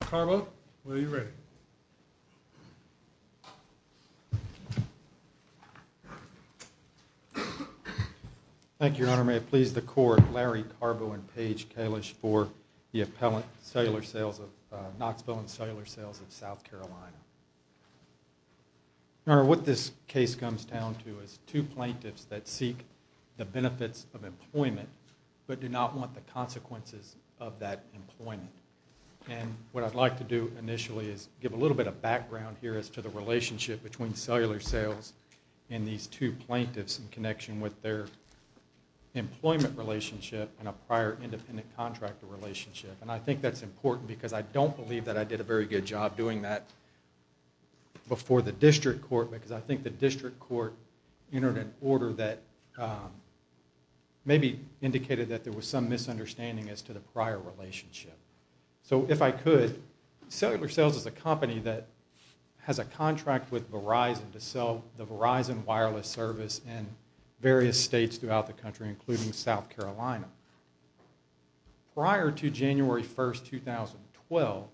Carbo, are you ready? Thank you, Your Honor. May it please the Court, Larry Carbo and Paige Kalish for the appellant cellular sales of Knoxville and Cellular Sales of South Carolina. Your Honor, what this case comes down to is two plaintiffs that seek the benefits of employment but do not want the consequences of that employment. And what I'd like to do initially is give a little bit of background here as to the relationship between cellular sales and these two plaintiffs in connection with their employment relationship and a prior independent contractor relationship. And I think that's important because I don't believe that I did a very good job doing that before the district court because I think the district court entered an order that maybe indicated that there was some misunderstanding as to the prior relationship. So if I could, cellular sales is a company that has a contract with Verizon to sell the Verizon wireless service in various states throughout the country including South Carolina. Prior to January 1st, 2012,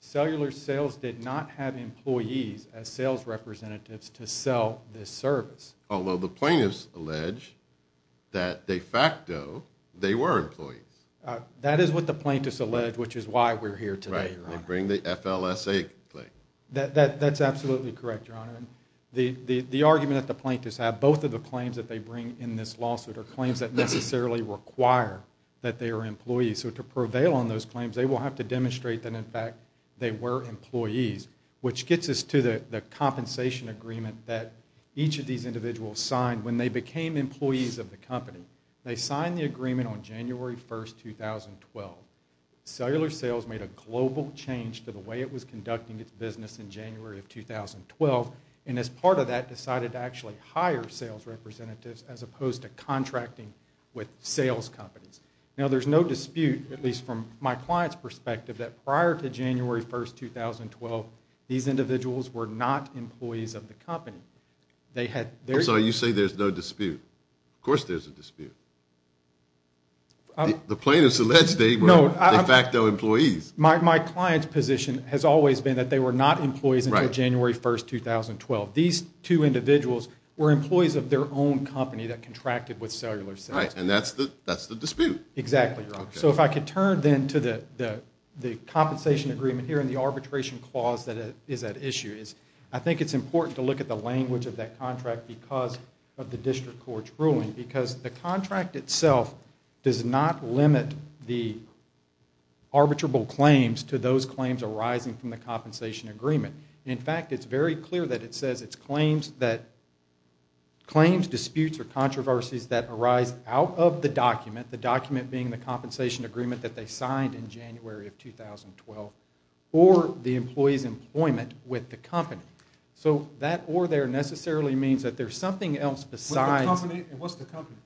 cellular sales did not have employees as sales representatives to sell this service. Although the plaintiffs allege that de facto they were employees. That is what the plaintiffs allege which is why we're here today, Your Honor. Right, they bring the FLSA claim. That's absolutely correct, Your Honor. The argument that the plaintiffs have, both of the claims that they bring in this lawsuit are claims that necessarily require that they are employees. So to prevail on those claims, they will have to demonstrate that in fact they were employees which gets us to the compensation agreement that each of these individuals signed when they became employees of the company. They signed the agreement on January 1st, 2012. Cellular sales made a global change to the way it was conducting its business in January of 2012 and as part of that decided to actually hire sales representatives as opposed to contracting with sales companies. Now there's no dispute, at least from my client's perspective, that prior to January 1st, 2012, these individuals were not employees of the company. I'm sorry, you say there's no dispute. Of course there's a dispute. The plaintiffs allege they were in fact employees. My client's position has always been that they were not employees until January 1st, 2012. These two individuals were employees of their own company that contracted with Cellular Sales. Right, and that's the dispute. Exactly, Your Honor. So if I could turn then to the compensation agreement here and the arbitration clause that is at issue. I think it's important to look at the language of that contract because of the district court's ruling because the contract itself does not limit the arbitrable claims to those claims arising from the compensation agreement. In fact, it's very clear that it says it's claims disputes or controversies that arise out of the document, the document being the compensation agreement that they signed in January of 2012 or the employee's employment with the company. So that or there necessarily means that there's something else besides What's the company?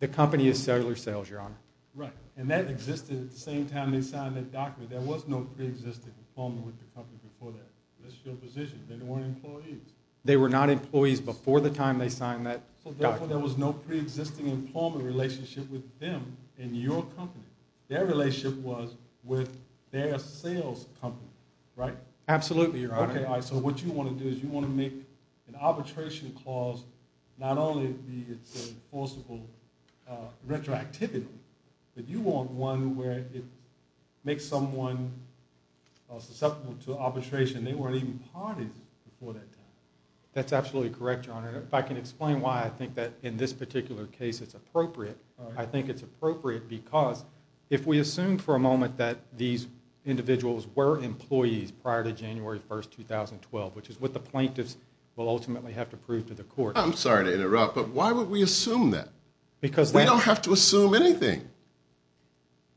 The company is Cellular Sales, Your Honor. Right, and that existed at the same time they signed that document. There was no pre-existing employment with the company before that. That's your position. They weren't employees. They were not employees before the time they signed that document. So therefore there was no pre-existing employment relationship with them in your company. Their relationship was with their sales company, right? Absolutely, Your Honor. All right, so what you want to do is you want to make an arbitration clause not only be it's a forcible retroactivity, but you want one where it makes someone susceptible to arbitration. They weren't even parties before that time. That's absolutely correct, Your Honor. If I can explain why I think that in this particular case it's appropriate, I think it's appropriate because if we assume for a moment that these individuals were employees prior to January 1st, 2012, which is what the plaintiffs will ultimately have to prove to the court. I'm sorry to interrupt, but why would we assume that? We don't have to assume anything.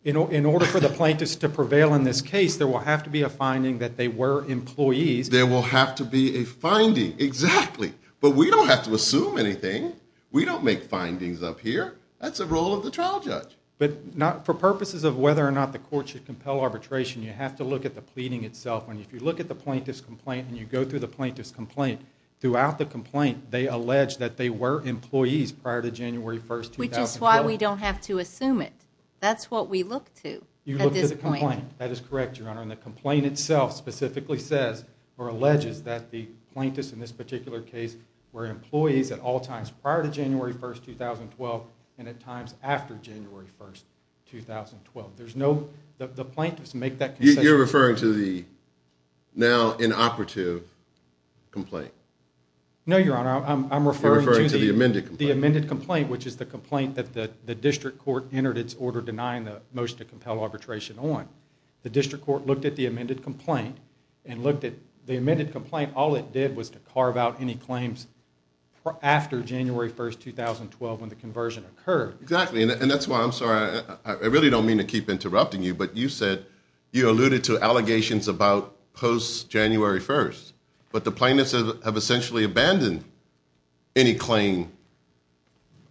In order for the plaintiffs to prevail in this case, there will have to be a finding that they were employees. There will have to be a finding, exactly. But we don't have to assume anything. We don't make findings up here. That's the role of the trial judge. But for purposes of whether or not the court should compel arbitration, you have to look at the pleading itself. If you look at the plaintiff's complaint and you go through the plaintiff's complaint, throughout the complaint they allege that they were employees prior to January 1st, 2012. Which is why we don't have to assume it. That's what we look to at this point. You look at the complaint. That is correct, Your Honor. And the complaint itself specifically says or alleges that the plaintiffs in this particular case were employees at all times prior to January 1st, 2012 and at times after January 1st, 2012. The plaintiffs make that concession. You're referring to the now inoperative complaint. No, Your Honor. I'm referring to the amended complaint, which is the complaint that the district court entered its order denying the motion to compel arbitration on. The district court looked at the amended complaint and looked at the amended complaint. All it did was to carve out any claims after January 1st, 2012 when the conversion occurred. Exactly. And that's why I'm sorry. I really don't mean to keep interrupting you, but you said you alluded to allegations about post-January 1st, but the plaintiffs have essentially abandoned any claim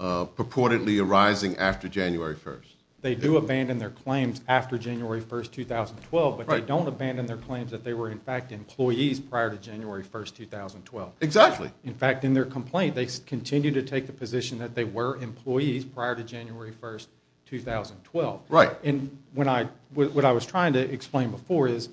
purportedly arising after January 1st. They do abandon their claims after January 1st, 2012, but they don't abandon their claims that they were in fact employees prior to January 1st, 2012. Exactly. In fact, in their complaint, they continue to take the position that they were employees prior to January 1st, 2012. Right. And what I was trying to explain before is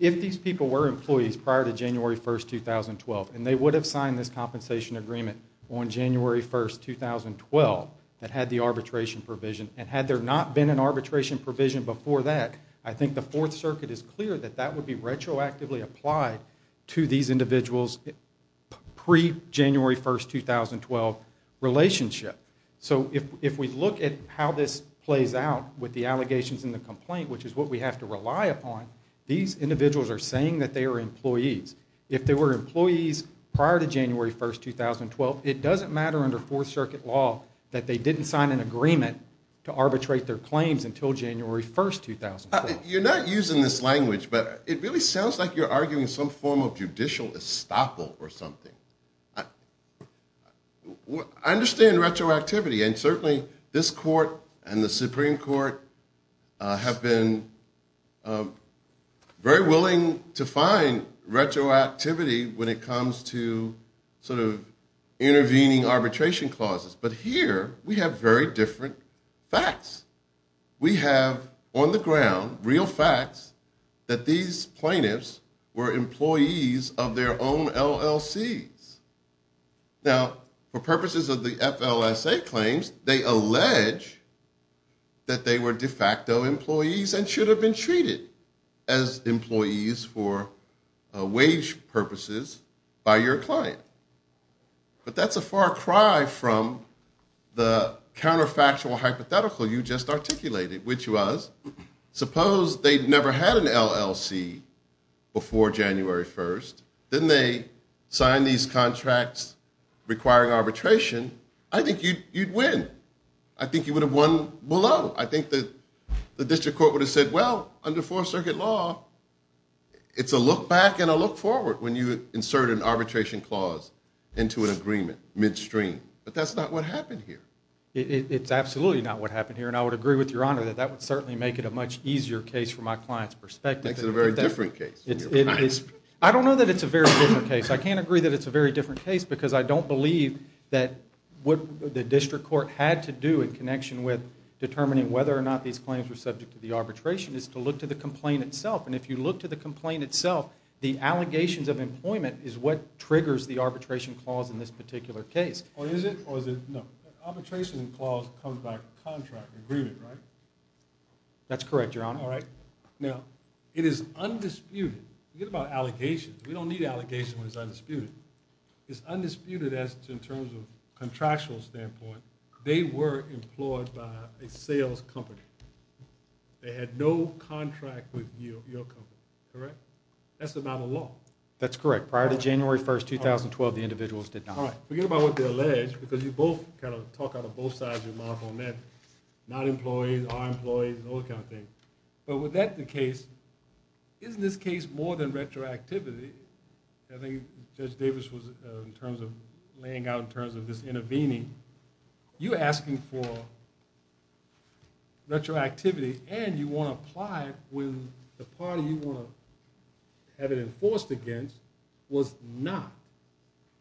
if these people were employees prior to January 1st, 2012 and they would have signed this compensation agreement on January 1st, 2012 that had the arbitration provision, and had there not been an arbitration provision before that, I think the Fourth Circuit is clear that that would be retroactively applied to these individuals' pre-January 1st, 2012 relationship. So if we look at how this plays out with the allegations in the complaint, which is what we have to rely upon, these individuals are saying that they are employees. If they were employees prior to January 1st, 2012, it doesn't matter under Fourth Circuit law that they didn't sign an agreement to arbitrate their claims until January 1st, 2012. You're not using this language, but it really sounds like you're arguing some form of judicial estoppel or something. I understand retroactivity and certainly this court and the Supreme Court have been very willing to find retroactivity when it comes to sort of intervening arbitration clauses. But here, we have very different facts. We have on the ground real facts that these plaintiffs were employees of their own LLCs. Now, for purposes of the FLSA claims, they allege that they were de facto employees and should have been treated as employees for wage purposes by your client. But that's a far cry from the counterfactual hypothetical you just articulated, which was, suppose they never had an LLC before January 1st, then they signed these contracts requiring arbitration, I think you'd win. I think you would have won below. I think the district court would have said, well, under Fourth Circuit law, it's a look back and a look forward when you insert an arbitration clause into an agreement midstream. But that's not what happened here. It's absolutely not what happened here, and I would agree with Your Honor that that would certainly make it a much easier case from my client's perspective. I think it's a very different case. I don't know that it's a very different case. I can't agree that it's a very different case because I don't believe that what the district court had to do in connection with determining whether or not these claims were subject to the arbitration is to look to the complaint itself. And if you look to the complaint itself, the allegations of employment is what triggers the arbitration clause in this particular case. Arbitration clause comes by contract agreement, right? That's correct, Your Honor. All right. Now, it is undisputed. Forget about allegations. We don't need allegations when it's undisputed. It's undisputed in terms of contractual standpoint. They were employed by a sales company. They had no contract with your company, correct? That's not a law. That's correct. Prior to January 1, 2012, the individuals did not. All right. Forget about what they allege because you both kind of talk out of both sides of your mouth on that. Not employees, are employees, all that kind of thing. But was that the case? Isn't this case more than retroactivity? I think Judge Davis was laying out in terms of this intervening. You're asking for retroactivity and you want to apply it when the party you want to have it enforced against was not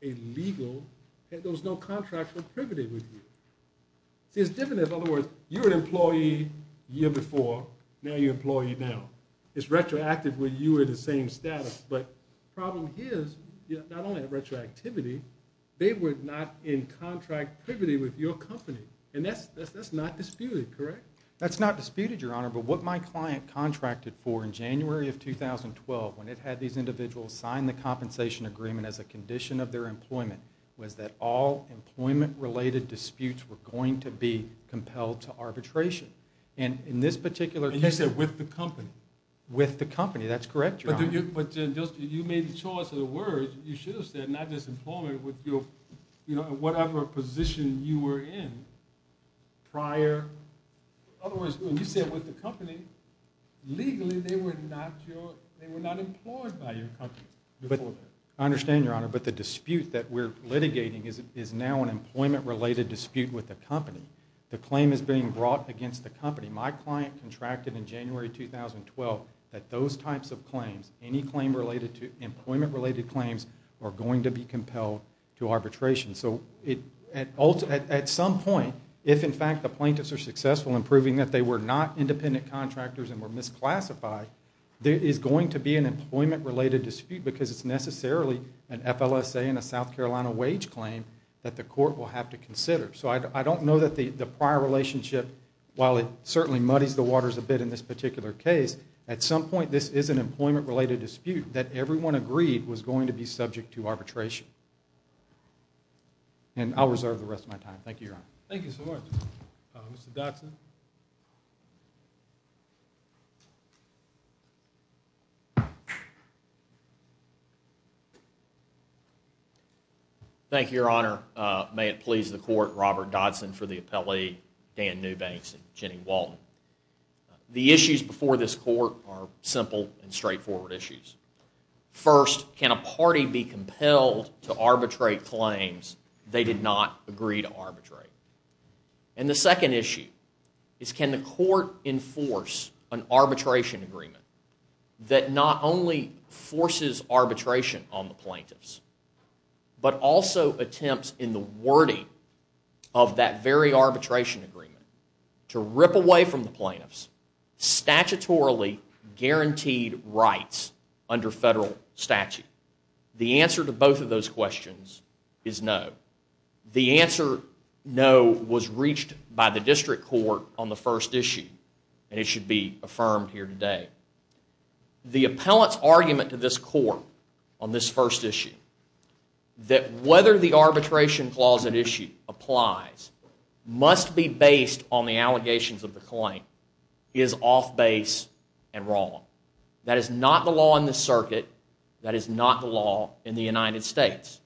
a legal and there was no contractual privity with you. See, it's different. In other words, you were an employee the year before, now you're an employee now. It's retroactive where you are the same status. But the problem here is not only retroactivity, they were not in contract privity with your company. And that's not disputed, correct? That's not disputed, Your Honor. But what my client contracted for in January of 2012 when it had these individuals sign the compensation agreement as a condition of their employment was that all employment-related disputes were going to be compelled to arbitration. And in this particular case... And you said with the company. With the company, that's correct, Your Honor. But you made the choice of the words, you should have said not just employment, but whatever position you were in prior. In other words, when you said with the company, legally they were not employed by your company. I understand, Your Honor, but the dispute that we're litigating is now an employment-related dispute with the company. The claim is being brought against the company. My client contracted in January 2012 that those types of claims, any employment-related claims, are going to be compelled to arbitration. So at some point, if in fact the plaintiffs are successful in proving that they were not independent contractors and were misclassified, there is going to be an employment-related dispute because it's necessarily an FLSA and a South Carolina wage claim that the court will have to consider. So I don't know that the prior relationship, while it certainly muddies the waters a bit in this particular case, at some point this is an employment-related dispute that everyone agreed was going to be subject to arbitration. And I'll reserve the rest of my time. Thank you, Your Honor. Thank you so much. Mr. Dodson. Thank you, Your Honor. May it please the Court, Robert Dodson for the appellee, Dan Newbanks and Jenny Walton. The issues before this Court are simple and straightforward issues. First, can a party be compelled to arbitrate claims they did not agree to arbitrate? And the second issue is can the Court enforce an arbitration agreement that not only forces arbitration on the plaintiffs, but also attempts in the wording of that very arbitration agreement to rip away from the plaintiffs statutorily guaranteed rights under federal statute? The answer to both of those questions is no. The answer no was reached by the District Court on the first issue, and it should be affirmed here today. The appellant's argument to this Court on this first issue that whether the arbitration clause at issue applies must be based on the allegations of the claim is off-base and wrong. That is not the law in this circuit. That is not the law in the United States.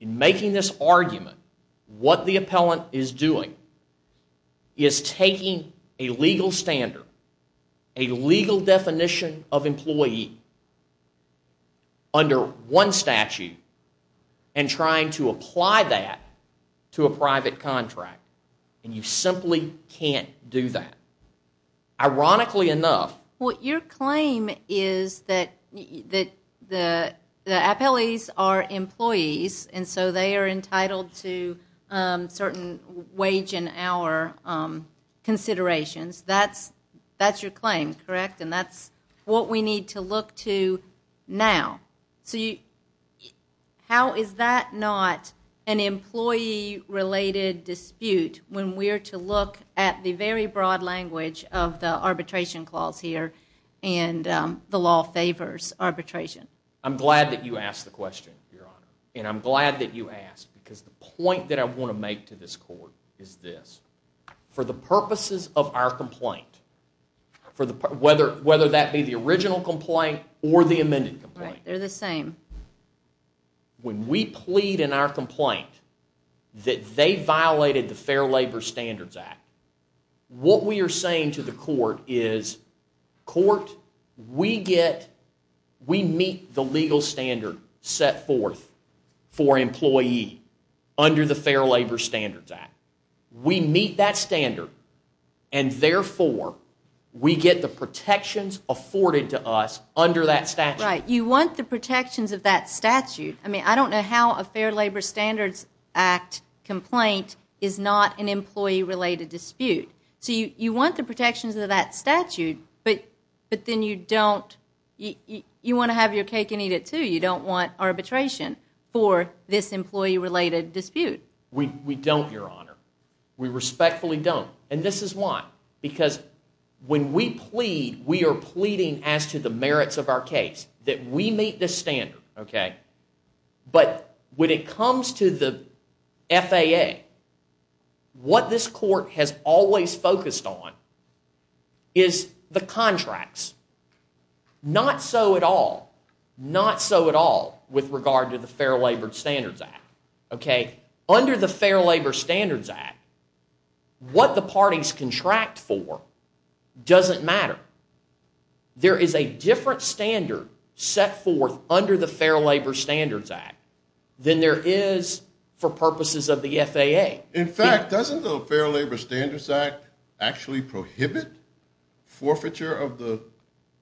In making this argument, what the appellant is doing is taking a legal standard, a legal definition of employee under one statute, and trying to apply that to a private contract. And you simply can't do that. Ironically enough... Well, your claim is that the appellees are employees, and so they are entitled to certain wage and hour considerations. That's your claim, correct? And that's what we need to look to now. So how is that not an employee-related dispute when we're to look at the very broad language of the arbitration clause here and the law favors arbitration? I'm glad that you asked the question, Your Honor. And I'm glad that you asked because the point that I want to make to this Court is this. For the purposes of our complaint, whether that be the original complaint or the amended complaint... Right, they're the same. When we plead in our complaint that they violated the Fair Labor Standards Act, what we are saying to the Court is, Court, we meet the legal standard set forth for employee under the Fair Labor Standards Act. We meet that standard, and therefore we get the protections afforded to us under that statute. Right, you want the protections of that statute. I mean, I don't know how a Fair Labor Standards Act complaint is not an employee-related dispute. So you want the protections of that statute, but then you don't... You want to have your cake and eat it, too. You don't want arbitration for this employee-related dispute. We don't, Your Honor. We respectfully don't. And this is why. Because when we plead, we are pleading as to the merits of our case that we meet this standard, okay? But when it comes to the FAA, what this Court has always focused on is the contracts. Not so at all, not so at all with regard to the Fair Labor Standards Act, okay? Under the Fair Labor Standards Act, what the parties contract for doesn't matter. There is a different standard set forth under the Fair Labor Standards Act than there is for purposes of the FAA. In fact, doesn't the Fair Labor Standards Act actually prohibit forfeiture of the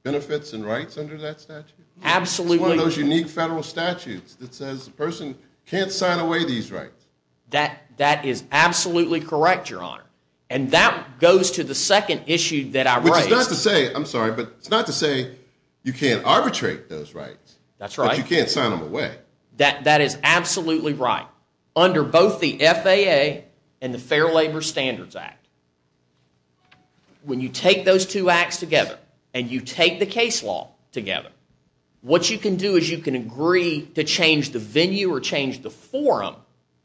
benefits and rights under that statute? Absolutely. It's one of those unique federal statutes that says the person can't sign away these rights. That is absolutely correct, Your Honor. And that goes to the second issue that I raised. Which is not to say, I'm sorry, but it's not to say you can't arbitrate those rights. That's right. But you can't sign them away. That is absolutely right. Under both the FAA and the Fair Labor Standards Act, when you take those two acts together and you take the case law together, what you can do is you can agree to change the venue or change the forum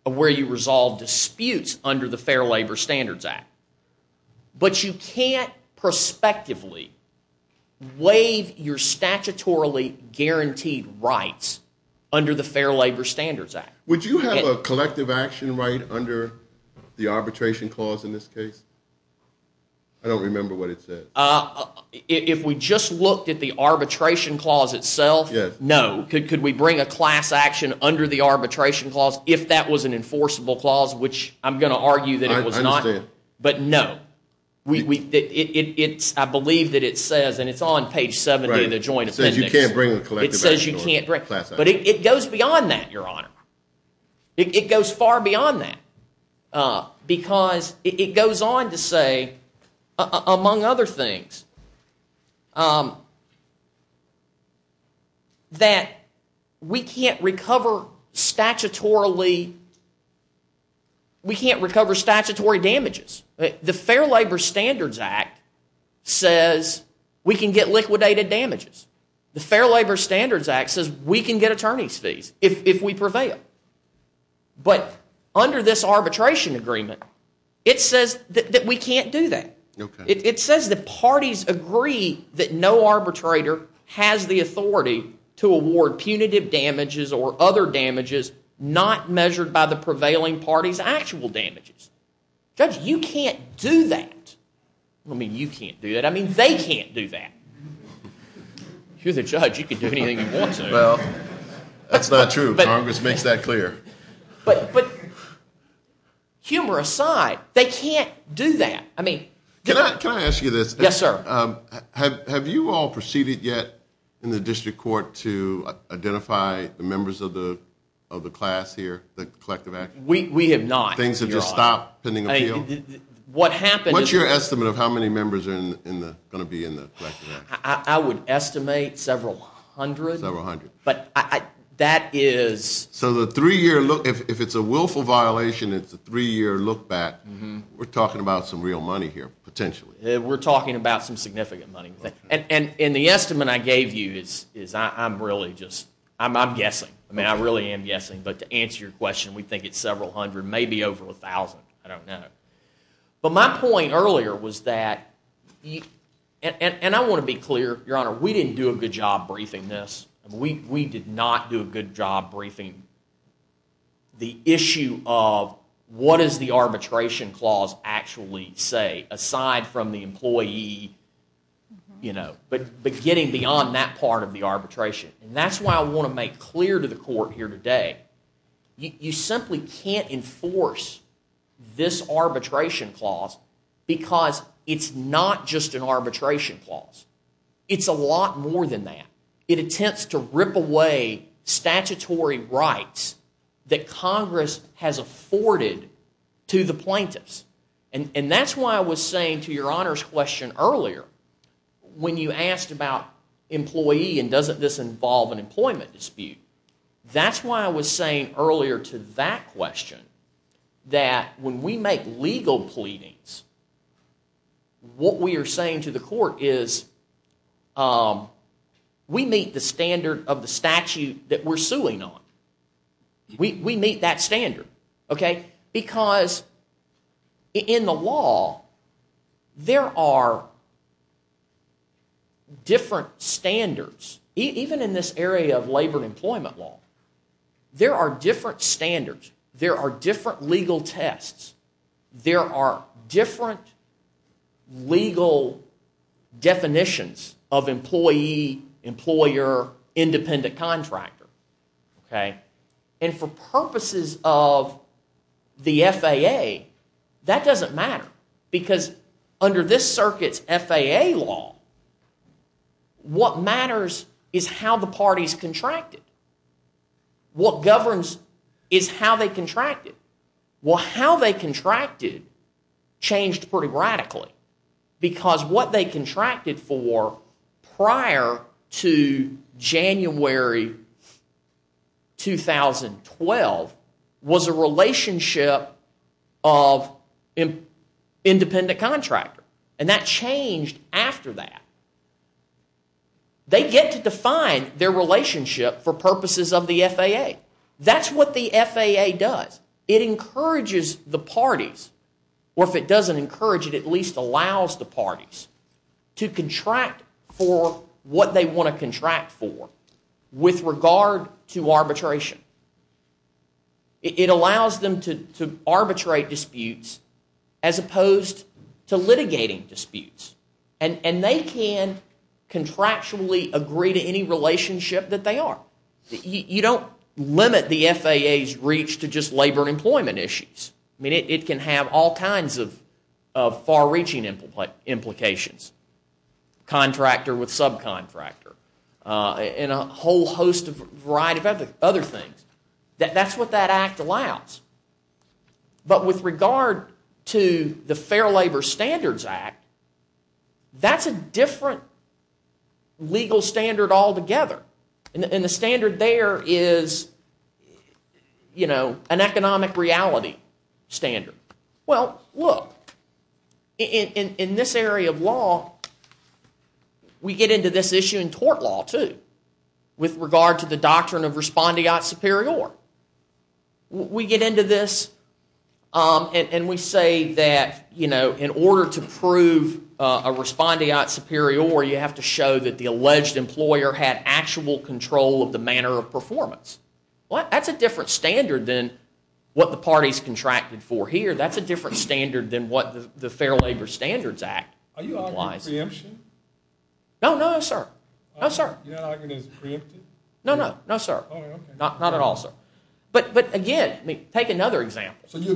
of where you resolve disputes under the Fair Labor Standards Act. But you can't prospectively waive your statutorily guaranteed rights under the Fair Labor Standards Act. Would you have a collective action right under the arbitration clause in this case? I don't remember what it said. If we just looked at the arbitration clause itself, no. Could we bring a class action under the arbitration clause if that was an enforceable clause, which I'm going to argue that it was not. But no. I believe that it says, and it's on page 70 of the Joint Appendix. It says you can't bring a collective action. But it goes beyond that, Your Honor. It goes far beyond that because it goes on to say, among other things, that we can't recover statutorily, we can't recover statutory damages. The Fair Labor Standards Act says we can get liquidated damages. The Fair Labor Standards Act says we can get attorney's fees if we prevail. But under this arbitration agreement, it says that we can't do that. It says the parties agree that no arbitrator has the authority to award punitive damages or other damages not measured by the prevailing party's actual damages. Judge, you can't do that. I don't mean you can't do that. I mean they can't do that. You're the judge. You can do anything you want to. Well, that's not true. Congress makes that clear. But humor aside, they can't do that. Can I ask you this? Yes, sir. Have you all proceeded yet in the district court to identify the members of the class here, the collective action? We have not. Things have just stopped pending appeal? What's your estimate of how many members are going to be in the collective action? I would estimate several hundred. Several hundred. But that is... So if it's a willful violation, it's a three-year look back. We're talking about some real money here, potentially. We're talking about some significant money. And the estimate I gave you is I'm really just... I'm guessing. I really am guessing. But to answer your question, we think it's several hundred, maybe over 1,000. I don't know. But my point earlier was that... And I want to be clear, Your Honor, we didn't do a good job briefing this. We did not do a good job briefing the issue of what does the arbitration clause actually say aside from the employee... but getting beyond that part of the arbitration. And that's why I want to make clear to the court here today, you simply can't enforce this arbitration clause because it's not just an arbitration clause. It's a lot more than that. It attempts to rip away statutory rights that Congress has afforded to the plaintiffs. And that's why I was saying to Your Honor's question earlier, when you asked about employee and doesn't this involve an employment dispute, that's why I was saying earlier to that question that when we make legal pleadings, what we are saying to the court is we meet the standard of the statute that we're suing on. We meet that standard, okay? Because in the law, there are different standards. Even in this area of labor and employment law, there are different standards. There are different legal tests. There are different legal definitions of employee, employer, independent contractor. Okay? And for purposes of the FAA, that doesn't matter because under this circuit's FAA law, what matters is how the parties contracted. What governs is how they contracted. Well, how they contracted changed pretty radically because what they contracted for prior to January 2012 was a relationship of independent contractor and that changed after that. They get to define their relationship for purposes of the FAA. That's what the FAA does. It encourages the parties or if it doesn't encourage it, it at least allows the parties to contract for what they want to contract for with regard to arbitration. It allows them to arbitrate disputes as opposed to litigating disputes and they can contractually agree to any relationship that they are. You don't limit the FAA's reach to just labor and employment issues. I mean, it can have all kinds of far-reaching implications. Contractor with subcontractor. And a whole host of variety of other things. That's what that act allows. But with regard to the Fair Labor Standards Act, that's a different legal standard altogether. And the standard there is, you know, an economic reality standard. Well, look, in this area of law, we get into this issue in tort law too with regard to the doctrine of respondeat superior. We get into this and we say that, you know, in order to prove a respondeat superior, you have to show that the alleged employer had actual control of the manner of performance. Well, that's a different standard than what the parties contracted for here. That's a different standard than what the Fair Labor Standards Act implies. No, no, sir. No, sir. No, no. No, sir. Not at all, sir. But again, take another example. There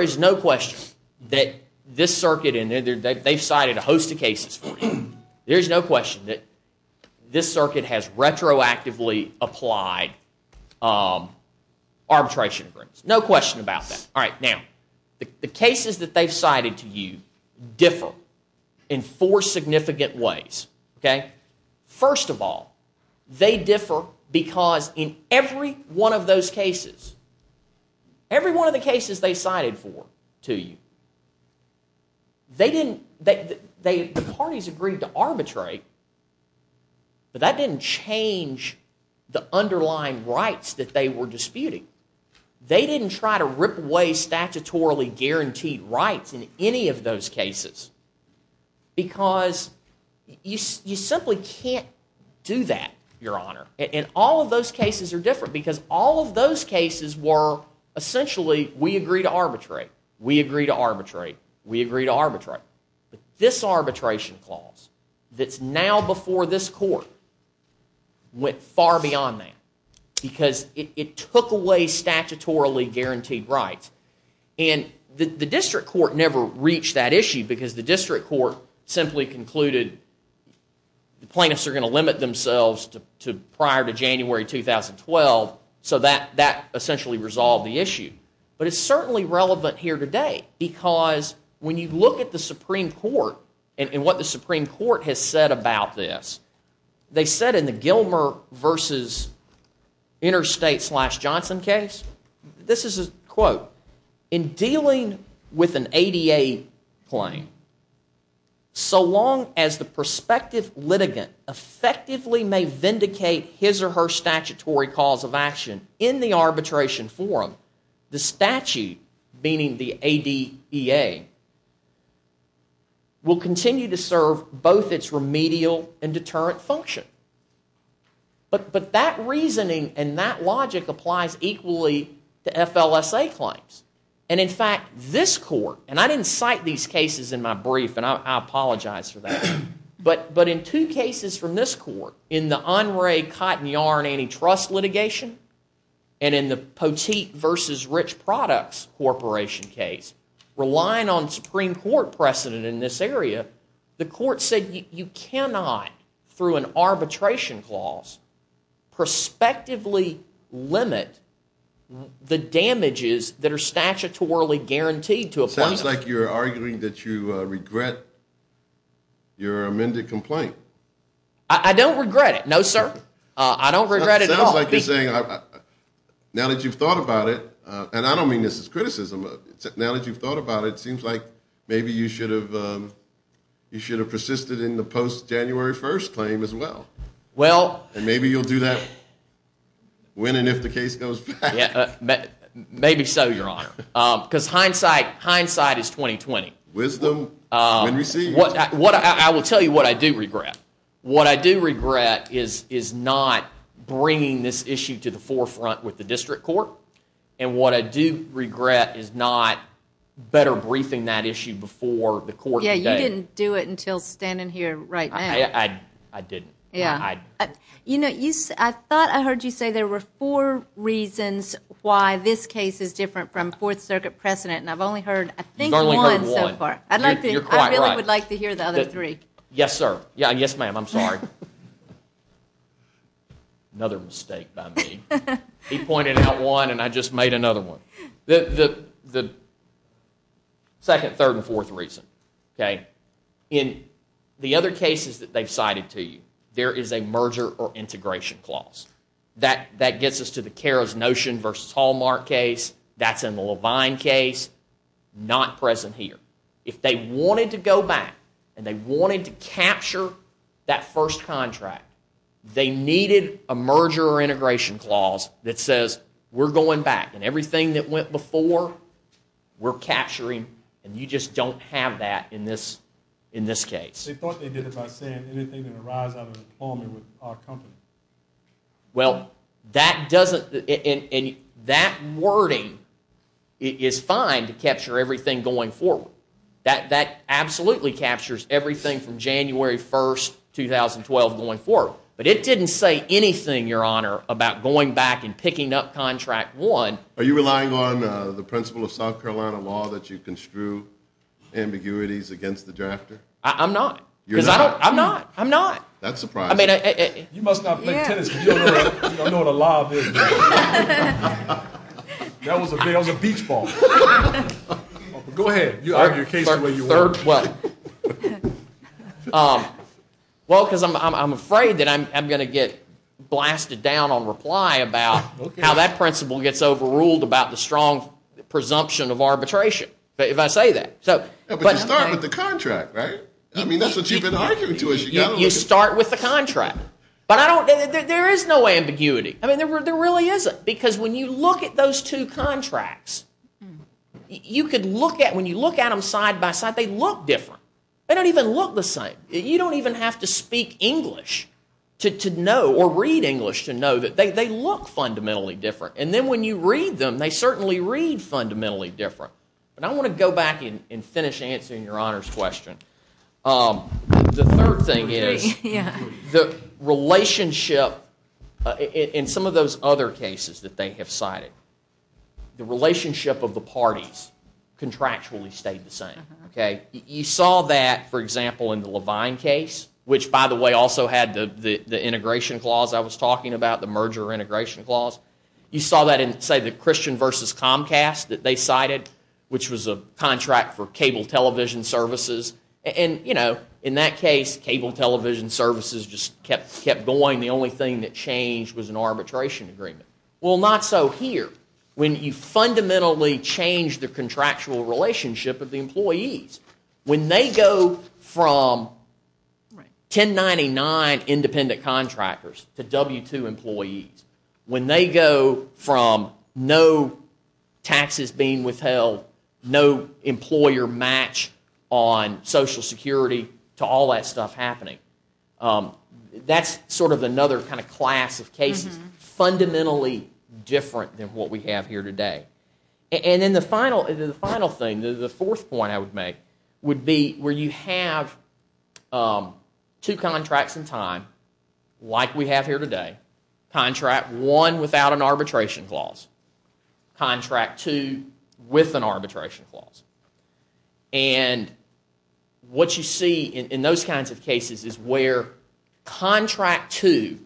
is no question that this circuit, and they've cited a host of cases. There's no question that this circuit has retroactively applied arbitration agreements. No question about that. All right, now, the cases that they've cited to you differ in four significant ways, okay? First of all, they differ because in every one of those cases, every one of the cases they cited for to you, they didn't, the parties agreed to arbitrate, but that didn't change the underlying rights that they were disputing. They didn't try to rip away statutorily guaranteed rights in any of those cases because you simply can't do that, Your Honor. And all of those cases are different because all of those cases were, essentially, we agree to arbitrate. We agree to arbitrate. We agree to arbitrate. But this arbitration clause, that's now before this court, went far beyond that because it took away statutorily guaranteed rights. And the district court never reached that issue because the district court simply concluded the plaintiffs are going to limit themselves prior to January 2012, so that essentially resolved the issue. But it's certainly relevant here today because when you look at the Supreme Court and what the Supreme Court has said about this, they said in the Gilmer v. Interstate slash Johnson case, this is a quote, in dealing with an ADA claim, so long as the prospective litigant effectively may vindicate his or her statutory cause of action in the arbitration forum, the statute, meaning the ADEA, will continue to serve both its remedial and deterrent function. But that reasoning and that logic applies equally to FLSA claims. And in fact, this court, and I didn't cite these cases in my brief, and I apologize for that, but in two cases from this court, in the Henri Cotton Yarn antitrust litigation and in the Poteet v. Rich Products corporation case, relying on Supreme Court precedent in this area, the court said you cannot, through an arbitration clause, prospectively limit the damages that are statutorily guaranteed to a plaintiff. Sounds like you're arguing that you regret your amended complaint. I don't regret it, no sir. I don't regret it at all. Now that you've thought about it, and I don't mean this as criticism, now that you've thought about it, it seems like maybe you should have persisted in the post-January 1st claim as well. And maybe you'll do that when and if the case goes back. Maybe so, Your Honor. Because hindsight is 20-20. Wisdom when received. I will tell you what I do regret. What I do regret is not bringing this issue to the forefront with the district court. And what I do regret is not better briefing that issue before the court today. Yeah, you didn't do it until standing here right now. I didn't. You know, I thought I heard you say there were four reasons why this case is different from Fourth Circuit precedent, and I've only heard, I think, one so far. You've only heard one. I really would like to hear the other three. Yes, sir. Yes, ma'am. I'm sorry. Another mistake by me. He pointed out one, and I just made another one. The second, third, and fourth reason. Okay? In the other cases that they've cited to you, there is a merger or integration clause. That gets us to the Karas-Notion v. Hallmark case. That's in the Levine case. Not present here. If they wanted to go back and they wanted to capture that first contract, they needed a merger or integration clause that says, we're going back, and everything that went before, we're capturing, and you just don't have that in this case. They thought they did it by saying anything that arises out of employment with our company. Well, that doesn't, and that wording is fine to capture everything going forward. That absolutely captures everything from January 1st, 2012 going forward, but it didn't say anything, Your Honor, about going back and picking up contract one. Are you relying on the principle of South Carolina law that you construe ambiguities against the drafter? I'm not. You're not? I'm not. I'm not. That's surprising. You must not play tennis because you don't know what a law is. That was a beach ball. Go ahead. You argue your case the way you want. Well, because I'm afraid that I'm going to get blasted down on reply about how that principle gets overruled about the strong presumption of arbitration, if I say that. But you start with the contract, right? I mean, that's what you've been arguing to us. You start with the contract, but there is no ambiguity. I mean, there really isn't, because when you look at those two contracts, when you look at them side by side, they look different. They don't even look the same. You don't even have to speak English to know or read English to know that they look fundamentally different. And then when you read them, they certainly read fundamentally different. But I want to go back and finish answering Your Honor's question. The third thing is the relationship in some of those other cases that they have cited, the relationship of the parties contractually stayed the same. You saw that, for example, in the Levine case, which, by the way, also had the integration clause I was talking about, the merger integration clause. You saw that in, say, the Christian versus Comcast that they cited, which was a contract for cable television services. And, you know, in that case, cable television services just kept going. The only thing that changed was an arbitration agreement. Well, not so here. When you fundamentally change the contractual relationship of the employees, when they go from 1099 independent contractors to W-2 employees, when they go from no taxes being withheld, no employer match on Social Security to all that stuff happening, that's sort of another kind of class of cases. It's fundamentally different than what we have here today. And then the final thing, the fourth point I would make, would be where you have two contracts in time, like we have here today, contract one without an arbitration clause, And what you see in those kinds of cases is where contract two,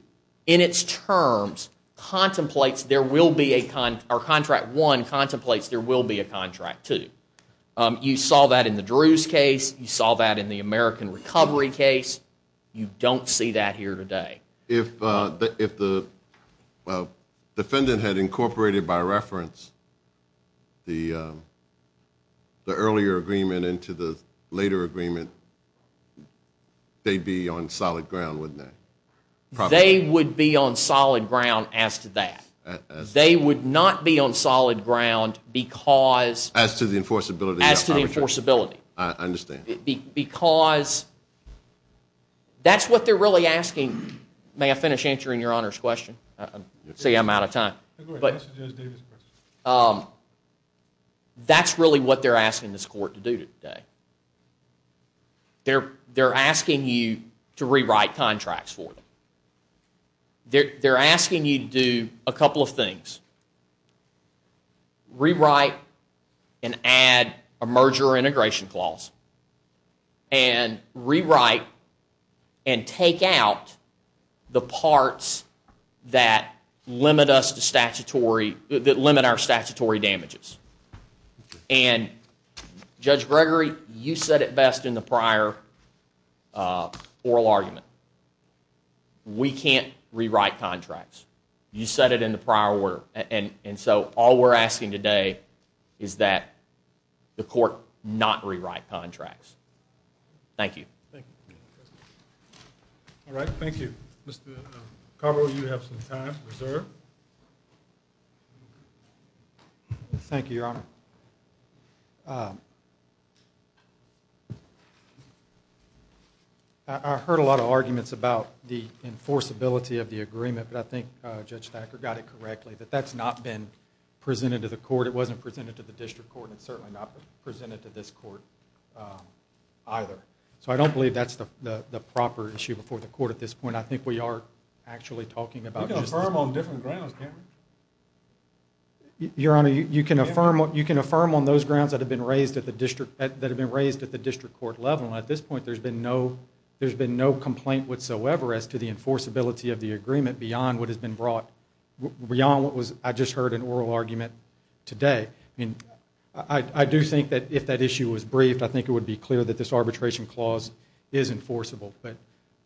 in its terms, contemplates there will be a, or contract one contemplates there will be a contract two. You saw that in the Drews case. You saw that in the American Recovery case. You don't see that here today. If the defendant had incorporated, by reference, the earlier agreement into the later agreement, they'd be on solid ground, wouldn't they? They would be on solid ground as to that. They would not be on solid ground because As to the enforceability? As to the enforceability. I understand. Because that's what they're really asking. May I finish answering your Honor's question? See, I'm out of time. That's really what they're asking this court to do today. They're asking you to rewrite contracts for them. They're asking you to do a couple of things. Rewrite and add a merger or integration clause. And rewrite and take out the parts that limit us to statutory, that limit our statutory damages. And Judge Gregory, you said it best in the prior oral argument. We can't rewrite contracts. You said it in the prior order. And so all we're asking today is that the court not rewrite contracts. Thank you. All right, thank you. Mr. Carbo, you have some time reserved. Thank you, Your Honor. I heard a lot of arguments about the enforceability of the agreement. But I think Judge Thacker got it correctly. That that's not been presented to the court. It wasn't presented to the district court. And it's certainly not presented to this court either. So I don't believe that's the proper issue before the court at this point. I think we are actually talking about You can affirm on different grounds, can't you? Your Honor, you can affirm on those grounds that have been raised at the district court level. At this point, there's been no complaint whatsoever as to the enforceability of the agreement beyond what has been brought, beyond what I just heard in oral argument today. I do think that if that issue was briefed, I think it would be clear that this arbitration clause is enforceable. But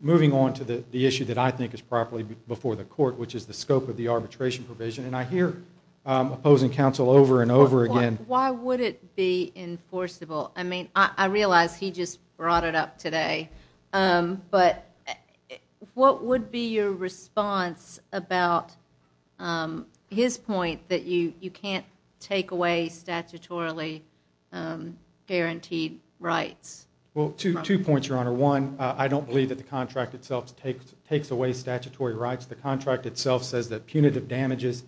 moving on to the issue that I think is properly before the court, which is the scope of the arbitration provision. And I hear opposing counsel over and over again. Why would it be enforceable? I mean, I realize he just brought it up today. But what would be your response about his point that you can't take away statutorily guaranteed rights? Well, two points, Your Honor. One, I don't believe that the contract itself takes away statutory rights. The contract itself says that punitive damages,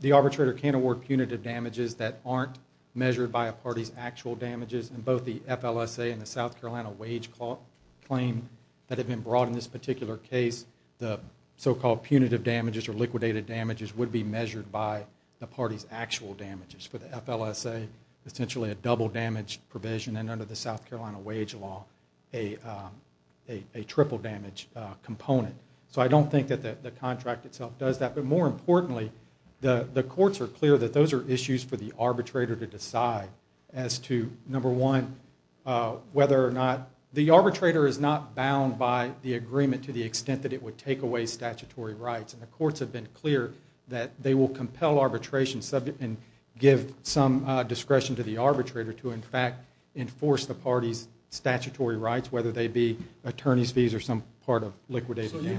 the arbitrator can't award punitive damages that aren't measured by a party's actual damages. In both the FLSA and the South Carolina wage claim that have been brought in this particular case, the so-called punitive damages or liquidated damages would be measured by the party's actual damages. For the FLSA, essentially a double damage provision, and under the South Carolina wage law, a triple damage component. So I don't think that the contract itself does that. But more importantly, the courts are clear that those are issues for the arbitrator to decide as to, number one, whether or not... The arbitrator is not bound by the agreement to the extent that it would take away statutory rights. And the courts have been clear that they will compel arbitration and give some discretion to the arbitrator to, in fact, enforce the party's statutory rights, whether they be attorney's fees or some part of liquidated damages. Absolutely,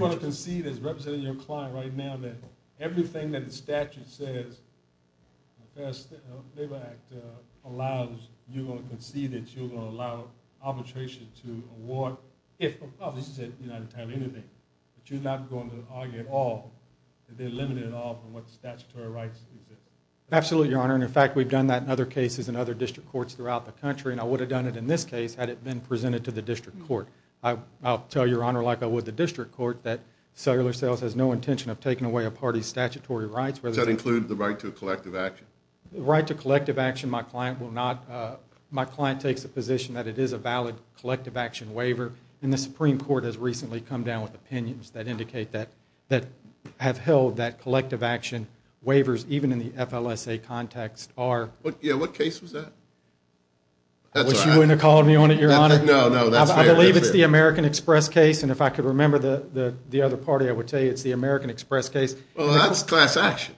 Your Honor, and in fact, we've done that in other cases in other district courts throughout the country, and I would have done it in this case had it been presented to the district court. I'll tell Your Honor, like I would the district court, that Cellular Sales has no intention of taking away a party's statutory rights. Does that include the right to collective action? The right to collective action, my client will not... My client takes the position that it is a valid collective action waiver, and the Supreme Court has recently come down with opinions that indicate that... that have held that collective action waivers, even in the FLSA context, are... Yeah, what case was that? I wish you wouldn't have called me on it, Your Honor. No, no, that's fair. I believe it's the American Express case, and if I could remember the other party, I would tell you it's the American Express case. Well, that's class action.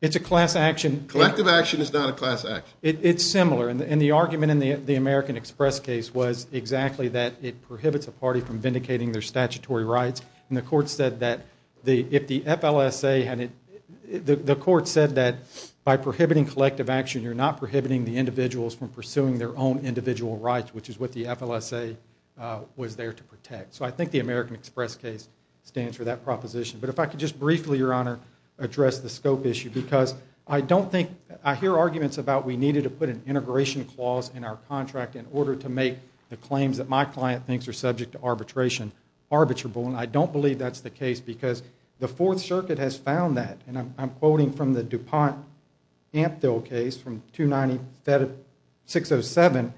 It's a class action. Collective action is not a class action. It's similar, and the argument in the American Express case was exactly that it prohibits a party from vindicating their statutory rights, and the court said that if the FLSA had... The court said that by prohibiting collective action, you're not prohibiting the individuals from pursuing their own individual rights, which is what the FLSA was there to protect. So I think the American Express case stands for that proposition. But if I could just briefly, Your Honor, address the scope issue, because I don't think... I hear arguments about we needed to put an integration clause in our contract in order to make the claims that my client thinks are subject to arbitration arbitrable, and I don't believe that's the case, because the Fourth Circuit has found that, and I'm quoting from the DuPont-Amphil case from 29607,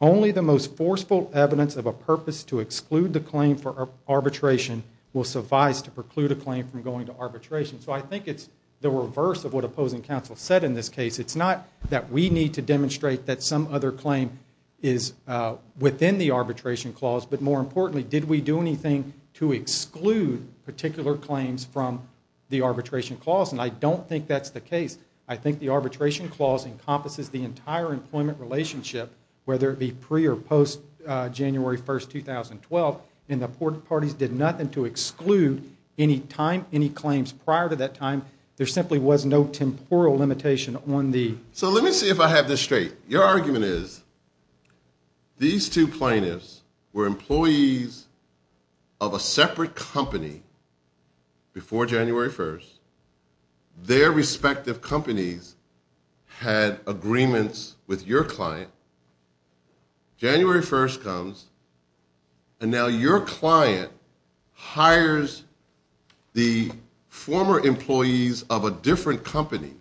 only the most forceful evidence of a purpose to exclude the claim for arbitration will suffice to preclude a claim from going to arbitration. So I think it's the reverse of what opposing counsel said in this case. It's not that we need to demonstrate that some other claim is within the arbitration clause, but more importantly, did we do anything to exclude particular claims from the arbitration clause? And I don't think that's the case. I think the arbitration clause encompasses the entire employment relationship, whether it be pre- or post-January 1st, 2012, and the parties did nothing to exclude any time, any claims prior to that time. There simply was no temporal limitation on the... So let me see if I have this straight. Your argument is, these two plaintiffs were employees of a separate company before January 1st. Their respective companies had agreements with your client. January 1st comes, and now your client hires the former employees of a different company,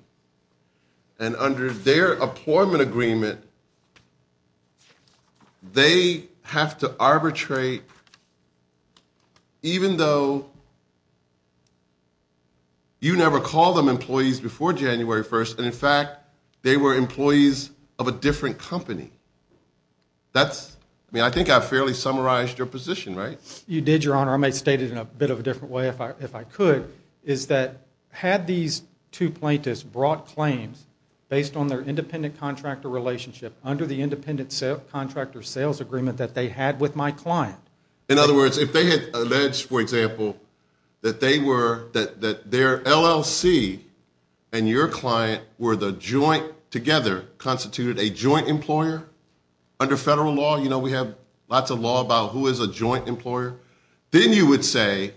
and under their employment agreement, they have to arbitrate, even though you never called them employees before January 1st, and in fact, they were employees of a different company. That's... I mean, I think I fairly summarized your position, right? You did, Your Honor. I might state it in a bit of a different way if I could, is that had these two plaintiffs brought claims based on their independent contractor relationship under the independent contractor sales agreement that they had with my client... In other words, if they had alleged, for example, that they were... that their LLC and your client were the joint... together constituted a joint employer, under federal law, you know, we have lots of law about who is a joint employer, then you would say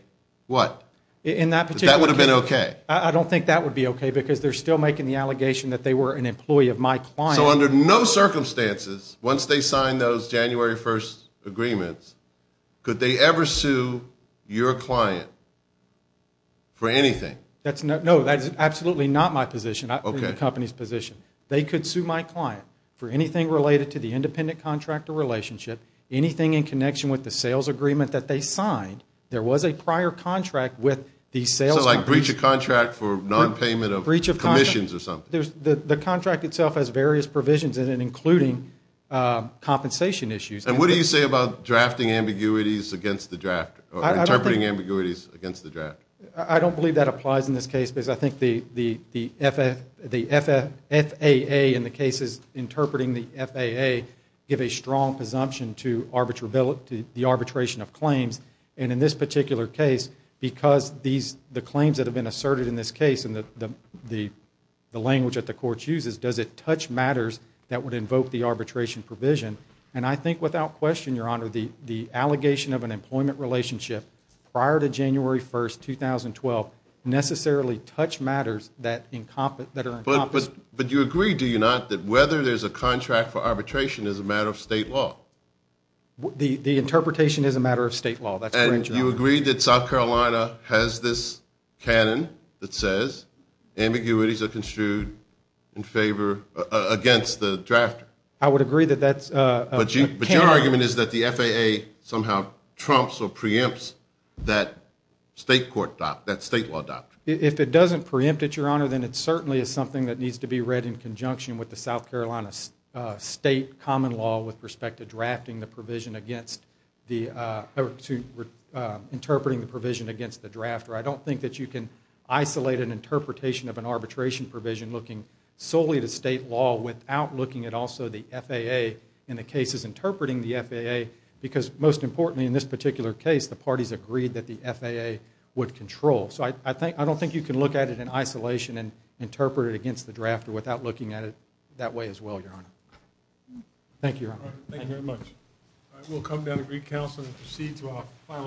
what? In that particular case... That would have been okay. I don't think that would be okay because they're still making the allegation that they were an employee of my client. So under no circumstances, once they sign those January 1st agreements, could they ever sue your client for anything? No, that's absolutely not my position. That's the company's position. They could sue my client for anything related to the independent contractor relationship, anything in connection with the sales agreement that they signed. There was a prior contract with the sales... So like breach of contract for non-payment of commissions or something? The contract itself has various provisions in it, including compensation issues. And what do you say about drafting ambiguities against the draft? Or interpreting ambiguities against the draft? I don't believe that applies in this case because I think the FAA, in the cases interpreting the FAA, give a strong presumption to the arbitration of claims and in this particular case, because the claims that have been asserted in this case and the language that the court chooses, does it touch matters that would invoke the arbitration provision? And I think without question, Your Honor, the allegation of an employment relationship prior to January 1st, 2012, necessarily touched matters that are incompetent. But you agree, do you not, that whether there's a contract for arbitration is a matter of state law? The interpretation is a matter of state law. And you agree that South Carolina has this canon that says ambiguities are construed against the draft? I would agree that that's a canon. But your argument is that the FAA somehow trumps or preempts that state law doctrine? If it doesn't preempt it, Your Honor, then it certainly is something that needs to be read in conjunction with the South Carolina state common law with respect to drafting the provision against the or to interpreting the provision against the drafter. I don't think that you can isolate an interpretation of an arbitration provision looking solely to state law without looking at also the FAA in the cases interpreting the FAA, because most importantly in this particular case, the parties agreed that the FAA would control. So I don't think you can look at it in isolation and interpret it against the drafter without looking at it that way as well, Your Honor. Thank you, Your Honor. Thank you very much.